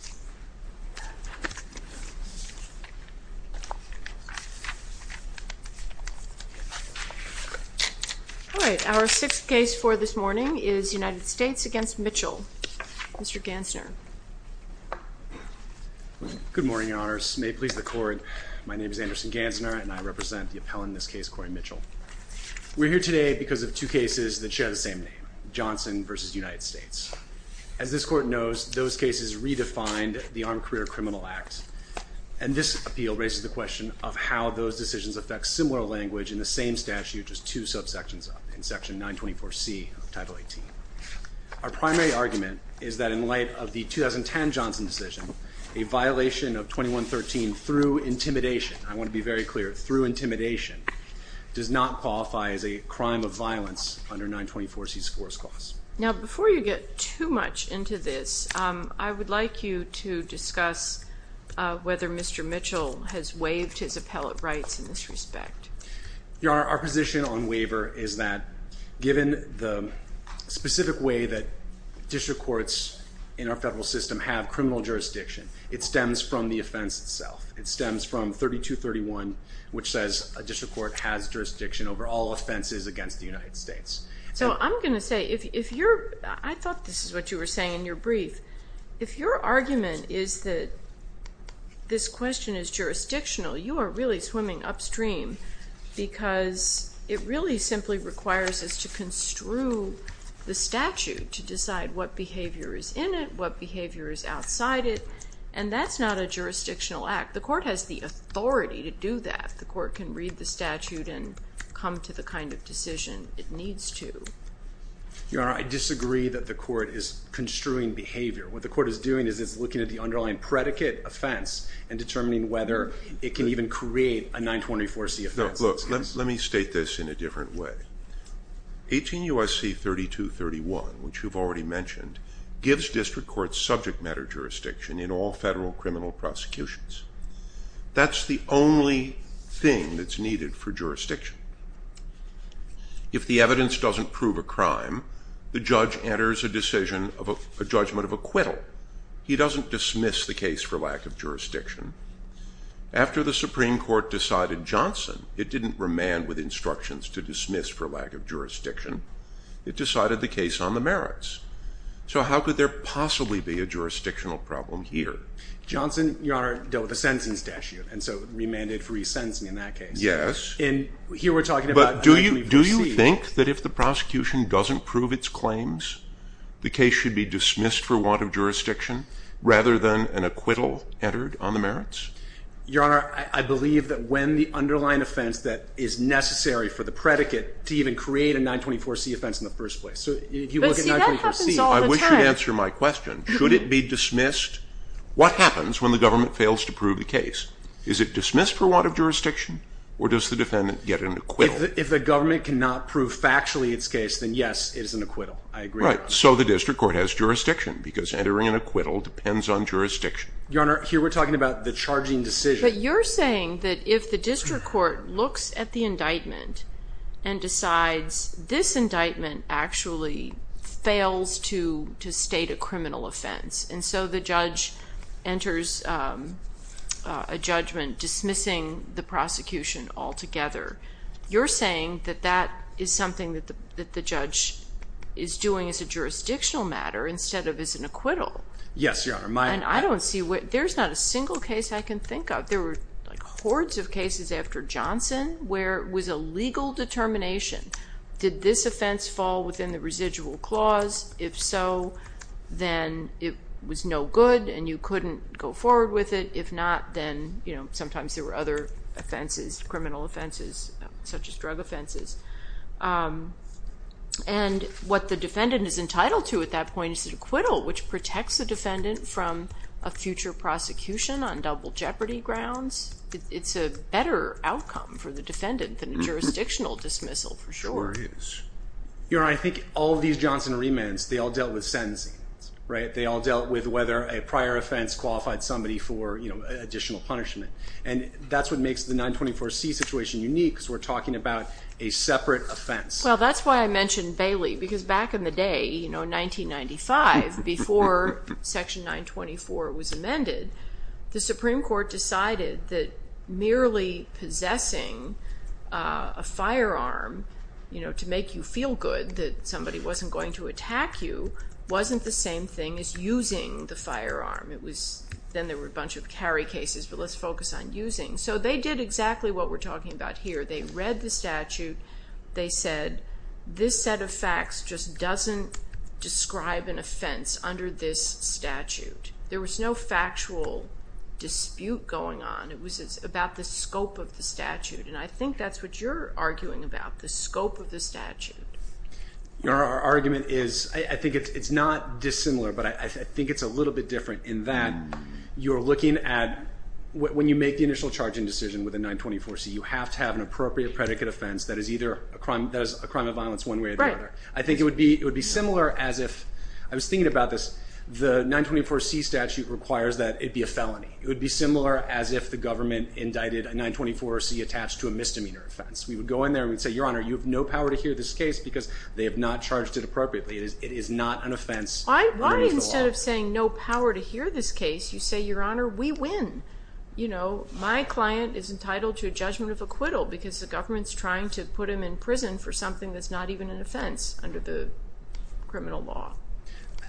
All right, our sixth case for this morning is United States against Mitchell. Mr. Gansner. Good morning, your honors. May it please the court, my name is Anderson Gansner and I represent the appellant in this case, Corey Mitchell. We're here today because of two cases that redefined the Armed Career Criminal Act and this appeal raises the question of how those decisions affect similar language in the same statute, just two subsections of it, in section 924C of Title 18. Our primary argument is that in light of the 2010 Johnson decision, a violation of 2113 through intimidation, I want to be very clear, through intimidation, does not qualify as a crime of violence under 924C's force clause. Now, before you get too much into this, I would like you to discuss whether Mr. Mitchell has waived his appellate rights in this respect. Your honor, our position on waiver is that given the specific way that district courts in our federal system have criminal jurisdiction, it stems from the offense itself. It stems from 3231, which says a district court has jurisdiction over all offenses against the United States. So I'm going to say, if you're, I thought this is what you were saying in your brief, if your argument is that this question is jurisdictional, you are really swimming upstream because it really simply requires us to construe the statute to decide what behavior is in it, what behavior is outside it, and that's not a jurisdictional act. The court has the authority to do that. The court can read the statute and come to the kind of decision it needs to. Your honor, I disagree that the court is construing behavior. What the court is doing is it's looking at the underlying predicate offense and determining whether it can even create a 924C offense. No, look, let me state this in a different way. 18 U.S.C. 3231, which you've already mentioned, gives district courts subject matter jurisdiction in all federal criminal prosecutions. That's the only thing that's needed for jurisdiction. If the evidence doesn't prove a crime, the judge enters a decision of a judgment of acquittal. He doesn't dismiss the case for lack of jurisdiction. After the Supreme Court decided Johnson, it didn't remand with instructions to dismiss for lack of jurisdiction. It decided the case on the merits. So how could there possibly be a jurisdictional problem here? Johnson, your honor, dealt with a sentencing statute and so remanded for resentencing in that case. Yes. And here we're talking about 924C. But do you think that if the prosecution doesn't prove its claims, the case should be dismissed for want of jurisdiction rather than an acquittal entered on the merits? Your honor, I believe that when the underlying offense that is necessary for the predicate to even create a 924C offense in the first place. So if you look at 924C, I wish you'd question, should it be dismissed? What happens when the government fails to prove the case? Is it dismissed for want of jurisdiction or does the defendant get an acquittal? If the government cannot prove factually its case, then yes, it is an acquittal. I agree with that. Right. So the district court has jurisdiction because entering an acquittal depends on jurisdiction. Your honor, here we're talking about the charging decision. But you're saying that if the district court looks at the indictment and decides this indictment actually fails to state a criminal offense, and so the judge enters a judgment dismissing the prosecution altogether, you're saying that that is something that the judge is doing as a jurisdictional matter instead of as an acquittal. Yes, your honor. And I don't see, there's not a single case I can think of. There were like hordes of within the residual clause. If so, then it was no good and you couldn't go forward with it. If not, then sometimes there were other offenses, criminal offenses such as drug offenses. And what the defendant is entitled to at that point is an acquittal, which protects the defendant from a future prosecution on double jeopardy grounds. It's a better outcome for the defendant than a jurisdictional dismissal for sure. Your honor, I think all of these Johnson remands, they all dealt with sentencing. They all dealt with whether a prior offense qualified somebody for additional punishment. And that's what makes the 924C situation unique, because we're talking about a separate offense. Well, that's why I mentioned Bailey, because back in the day, 1995, before section 924 was amended, the Supreme Court decided that merely possessing a firearm to make you feel good that somebody wasn't going to attack you wasn't the same thing as using the firearm. It was, then there were a bunch of carry cases, but let's focus on using. So they did exactly what we're talking about here. They read the statute. They said, this set of facts just doesn't describe an offense under this statute. There was no factual dispute going on. It was about the scope of the statute. And I think that's what you're arguing about, the scope of the statute. Your argument is, I think it's not dissimilar, but I think it's a little bit different in that you're looking at when you make the initial charging decision with a 924C, you have to have an appropriate predicate offense that is either a crime of violence one way or the other. It would be similar as if, I was thinking about this, the 924C statute requires that it be a felony. It would be similar as if the government indicted a 924C attached to a misdemeanor offense. We would go in there and we'd say, Your Honor, you have no power to hear this case because they have not charged it appropriately. It is not an offense. Why instead of saying no power to hear this case, you say, Your Honor, we win. You know, my client is entitled to a judgment of acquittal because the government's trying to put him in prison for something that's not even an offense under the criminal law.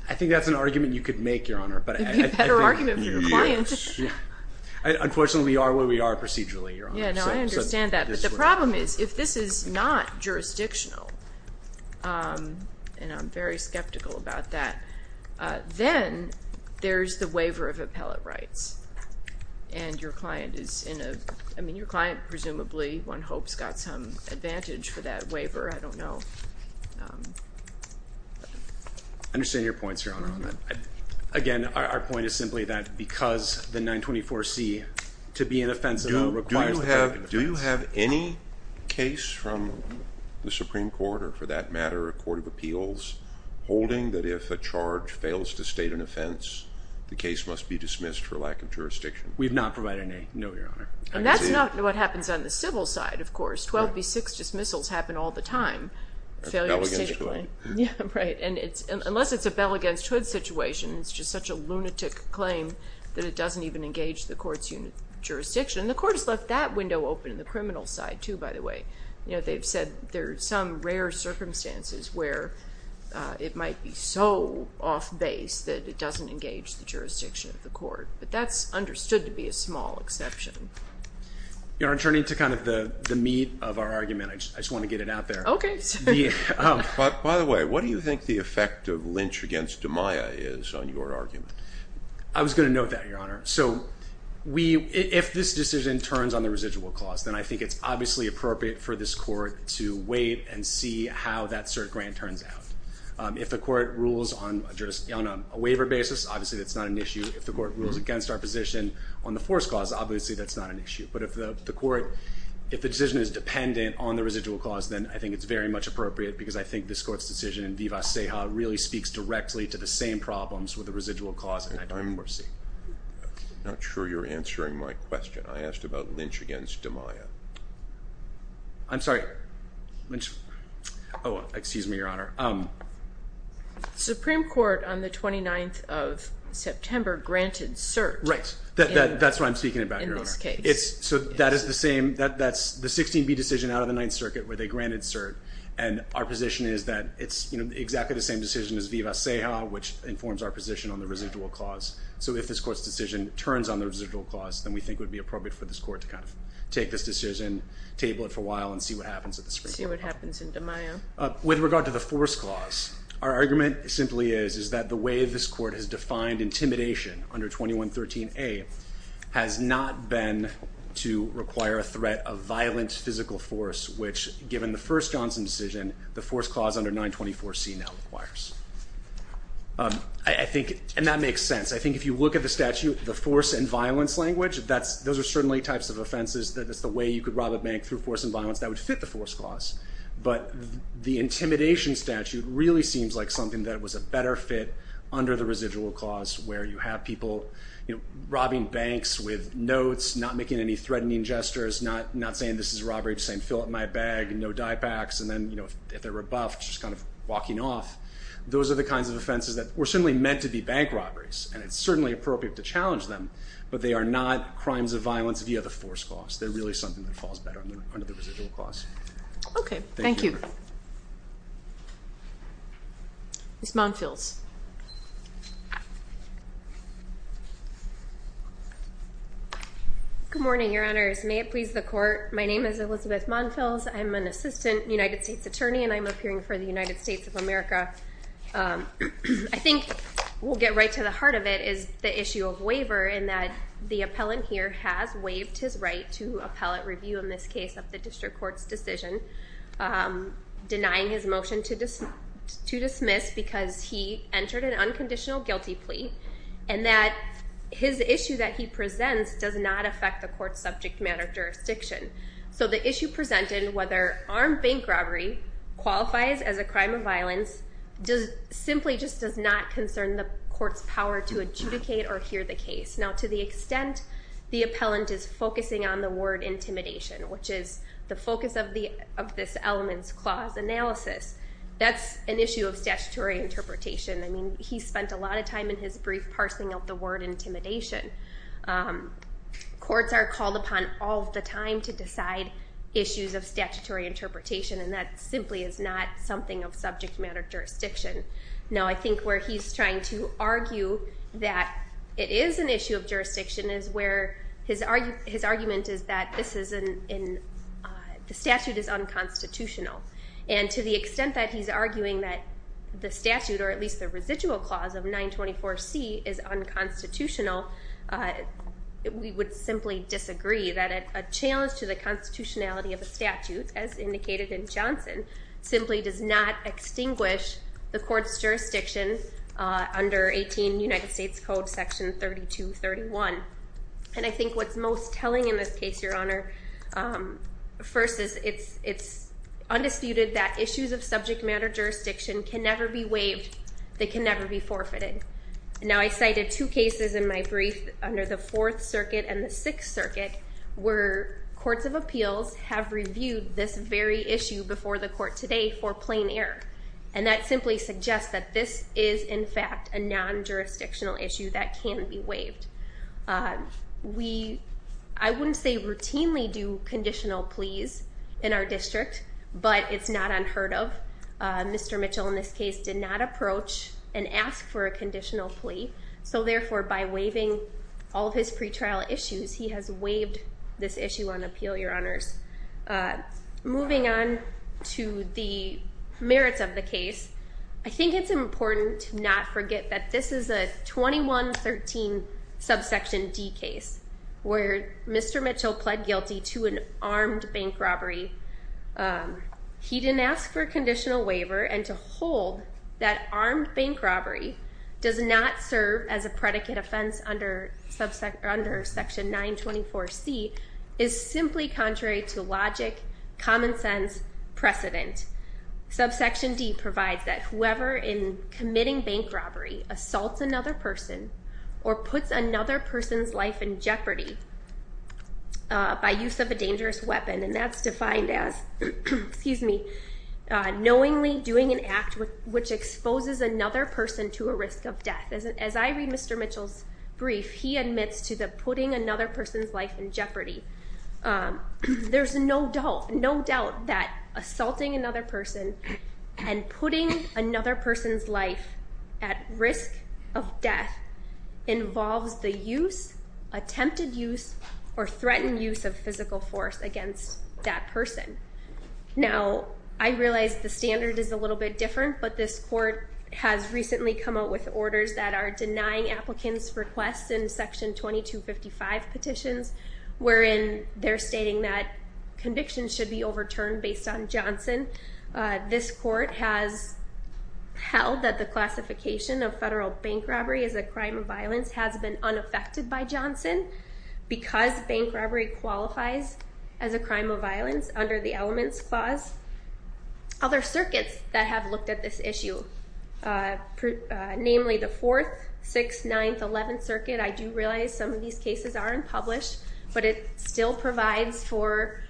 I think that's an argument you could make, Your Honor. A better argument for your client. Unfortunately, we are where we are procedurally, Your Honor. Yeah, no, I understand that. But the problem is, if this is not jurisdictional, and I'm very skeptical about that, then there's the waiver of appellate rights. And your client presumably, one hopes, got some advantage for that waiver. I don't know. Understand your points, Your Honor. Again, our point is simply that because the 924C to be an offense of the law requires the power of defense. Do you have any case from the Supreme Court, or for that matter, a court of appeals, holding that if a charge fails to state an offense, the case must be dismissed for lack of jurisdiction? We've not provided any, no, Your Honor. And that's not what happens on the civil side, of course. 12B6 dismissals happen all the time. Failure to state a claim. That's a bell against hood. Yeah, right. And unless it's a bell against hood situation, it's just such a lunatic claim that it doesn't even engage the court's jurisdiction. And the court has left that window open in the criminal side, too, by the way. They've said there are some rare circumstances where it might be so off base that it doesn't engage the jurisdiction of the court. But that's Your Honor, turning to kind of the meat of our argument, I just want to get it out there. Okay. By the way, what do you think the effect of Lynch against Amaya is on your argument? I was going to note that, Your Honor. So if this decision turns on the residual clause, then I think it's obviously appropriate for this court to wait and see how that cert grant turns out. If the court rules on a waiver basis, obviously that's not an issue. If the But if the court, if the decision is dependent on the residual clause, then I think it's very much appropriate because I think this court's decision in viva seja really speaks directly to the same problems with the residual clause and I don't foresee. I'm not sure you're answering my question. I asked about Lynch against Amaya. I'm sorry. Oh, excuse me, Your Honor. Supreme Court on the 29th of September granted cert. Right. That's what I'm speaking about, Your Honor. So that is the same, that's the 16B decision out of the Ninth Circuit where they granted cert and our position is that it's exactly the same decision as viva seja, which informs our position on the residual clause. So if this court's decision turns on the residual clause, then we think it would be appropriate for this court to kind of take this decision, table it for a while and see what happens at the Supreme Court. See what happens in Amaya. With regard to the force clause, our argument simply is, is that the way this court has done to require a threat of violent physical force, which given the first Johnson decision, the force clause under 924C now requires. I think, and that makes sense. I think if you look at the statute, the force and violence language, that's, those are certainly types of offenses that it's the way you could rob a bank through force and violence that would fit the force clause. But the intimidation statute really seems like something that was a better fit under the residual clause where you have people, you know, robbing banks with notes, not making any threatening gestures, not, not saying this is robbery, just saying fill up my bag and no die packs. And then, you know, if they're rebuffed, just kind of walking off. Those are the kinds of offenses that were certainly meant to be bank robberies and it's certainly appropriate to challenge them, but they are not crimes of violence via the force clause. They're really something that falls better under the residual clause. Okay. Thank you. Ms. Monfils. Good morning, your honors. May it please the court. My name is Elizabeth Monfils. I'm an assistant United States attorney and I'm appearing for the United States of America. I think we'll get right to the heart of it is the issue of waiver in that the appellant here has waived his right to appellate review in this case of the district court's decision, denying his motion to dismiss because he entered an unconditional guilty plea. And that his issue that he presents does not affect the court's subject matter jurisdiction. So the issue presented, whether armed bank robbery qualifies as a crime of violence simply just does not concern the court's power to adjudicate or hear the case. Now, to the extent the appellant is focusing on the word intimidation, which is the focus of this elements clause analysis, that's an issue of statutory interpretation. I mean, he spent a lot of time in his brief parsing of the word intimidation. Courts are called upon all of the time to decide issues of statutory interpretation and that simply is not something of subject matter jurisdiction. Now, I think where he's trying to argue that it is an issue of jurisdiction is where his statute is unconstitutional. And to the extent that he's arguing that the statute, or at least the residual clause of 924C is unconstitutional, we would simply disagree that a challenge to the constitutionality of a statute, as indicated in Johnson, simply does not extinguish the court's jurisdiction under 18 United States Code section 3231. And I think what's most telling in this case, Your Honor, first is it's undisputed that issues of subject matter jurisdiction can never be waived, they can never be forfeited. Now I cited two cases in my brief under the Fourth Circuit and the Sixth Circuit where courts of appeals have reviewed this very issue before the court today for plain error. And that simply suggests that this is in fact a non-jurisdictional issue that can be waived. I wouldn't say routinely do conditional pleas in our district, but it's not unheard of. Mr. Mitchell in this case did not approach and ask for a conditional plea, so therefore by waiving all of his pretrial issues, he has waived this issue on appeal, Your Honors. Moving on to the merits of the case, I think it's important to not forget that this is a 2113 subsection D case where Mr. Mitchell pled guilty to an armed bank robbery. He didn't ask for a conditional waiver, and to hold that armed bank robbery does not serve as a predicate offense under Section 924C is simply contrary to logic, common sense, precedent. Subsection D provides that whoever in committing bank robbery assaults another person or puts another person's life in jeopardy by use of a dangerous weapon, and that's defined as knowingly doing an act which exposes another person to a risk of death. As I read Mr. Mitchell's brief, he admits to putting another person's life in jeopardy. There's no doubt that assaulting another person and putting another person's life at risk of death involves the use, attempted use, or threatened use of physical force against that person. Now, I realize the standard is a little bit different, but this court has recently come out with orders that are denying applicants' requests in Section 2255 petitions wherein they're stating that convictions should be overturned based on Johnson. This court has held that the classification of federal bank robbery as a crime of violence has been unaffected by Johnson because bank robbery qualifies as a crime of violence under the elements clause. Other circuits that have looked at this issue, namely the 4th, 6th, 9th, 11th Circuit. I do realize some of these cases aren't published, but it still provides for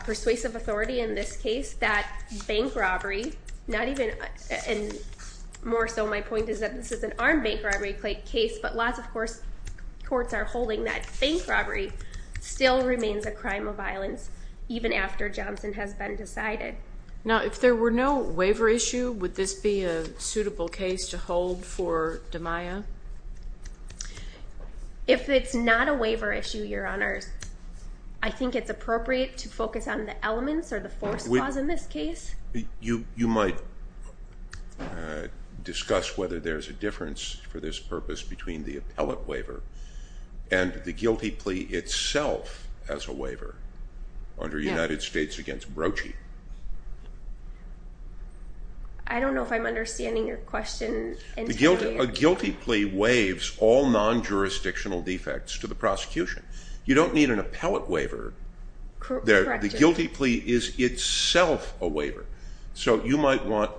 persuasive authority in this case that bank robbery, not even, and more so my point is that this is an armed bank robbery case, but lots of courts are holding that bank robbery still remains a crime of violence even after Johnson has been decided. Now, if there were no waiver issue, would this be a suitable case to hold for DiMaia? If it's not a waiver issue, Your Honors, I think it's appropriate to focus on the elements or the force clause in this case. You might discuss whether there's a difference for this purpose between the appellate waiver and the guilty plea itself as a waiver under United States v. Brochie. I don't know if I'm understanding your question. A guilty plea waives all non-jurisdictional defects to the prosecution. You don't need an appellate waiver. The guilty plea is itself a waiver, so you might want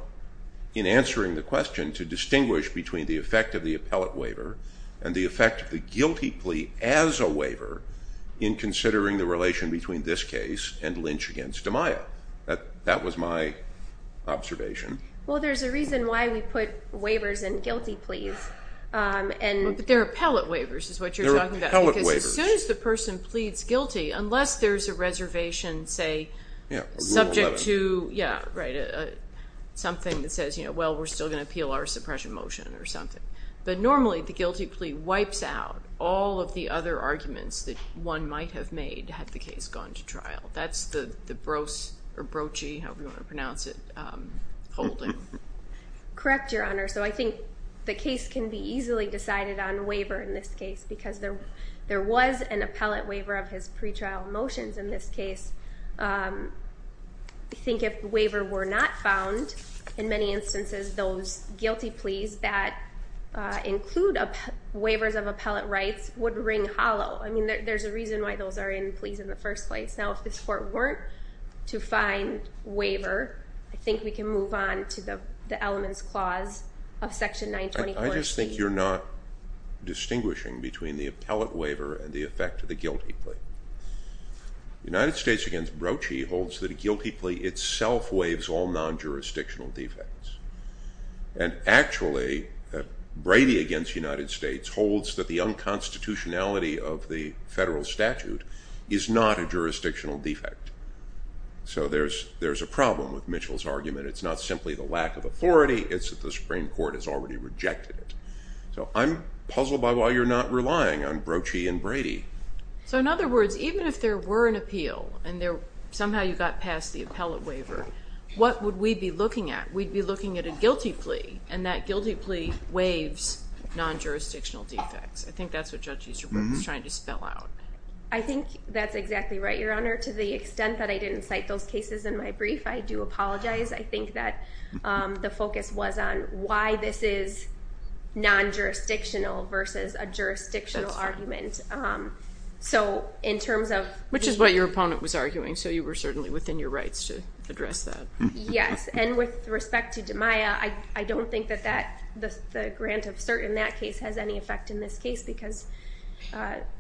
in answering the question to distinguish between the effect of the appellate waiver and the effect of the guilty plea as a waiver in considering the relation between this case and Lynch v. DiMaia. That was my observation. Well, there's a reason why we put waivers in guilty pleas. They're appellate waivers is what you're talking about because as soon as the person pleads guilty, unless there's a reservation, say, subject to something that says, well, we're still going to appeal our suppression motion or something, but normally the guilty plea wipes out all of the other arguments that one might have made had the case gone to trial. That's the Brochie, however you want to pronounce it, holding. Correct, Your Honor. So I think the case can be easily decided on waiver in this case because there was an appellate waiver of his pretrial motions in this case. I think if the waiver were not found, in many instances, those guilty pleas that include waivers of appellate rights would ring hollow. I mean, there's a reason why those are in pleas in the first place. Now, if this Court weren't to find waiver, I think we can move on to the elements clause of Section 924C. I just think you're not distinguishing between the appellate waiver and the effect of the guilty plea. The United States against Brochie holds that a guilty plea itself waives all non-jurisdictional defects. And actually, Brady against United States holds that the unconstitutionality of the federal statute is not a jurisdictional defect. So there's a problem with Mitchell's argument. It's not simply the lack of authority, it's that the Supreme Court has already rejected it. So I'm puzzled by why you're not relying on Brochie and Brady. So in other words, even if there were an appeal, and somehow you got past the appellate waiver, what would we be looking at? We'd be looking at a guilty plea, and that guilty plea waives non-jurisdictional defects. I think that's what Judge Easterbrook was trying to spell out. I think that's exactly right, Your Honor. To the extent that I didn't cite those cases in my brief, I do apologize. I think that the focus was on why this is non-jurisdictional versus a jurisdictional argument. So in terms of- Which is what your opponent was arguing, so you were certainly within your rights to address that. Yes. And with respect to DiMaia, I don't think that the grant of cert in that case has any effect in this case, because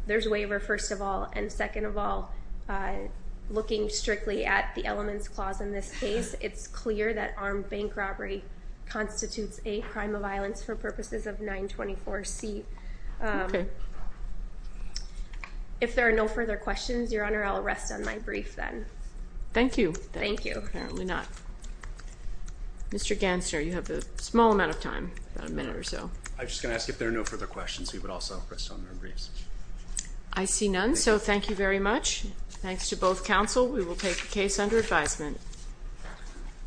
there's a waiver, first of all. And second of all, looking strictly at the elements clause in this case, it's clear that armed bank robbery constitutes a crime of violence for purposes of 924C. If there are no further questions, Your Honor, I'll rest on my brief then. Thank you. Thank you. Apparently not. Mr. Gansner, you have a small amount of time, about a minute or so. I'm just going to ask if there are no further questions, we would also rest on our briefs. I see none, so thank you very much. Thanks to both counsel. We will take the case under advisement.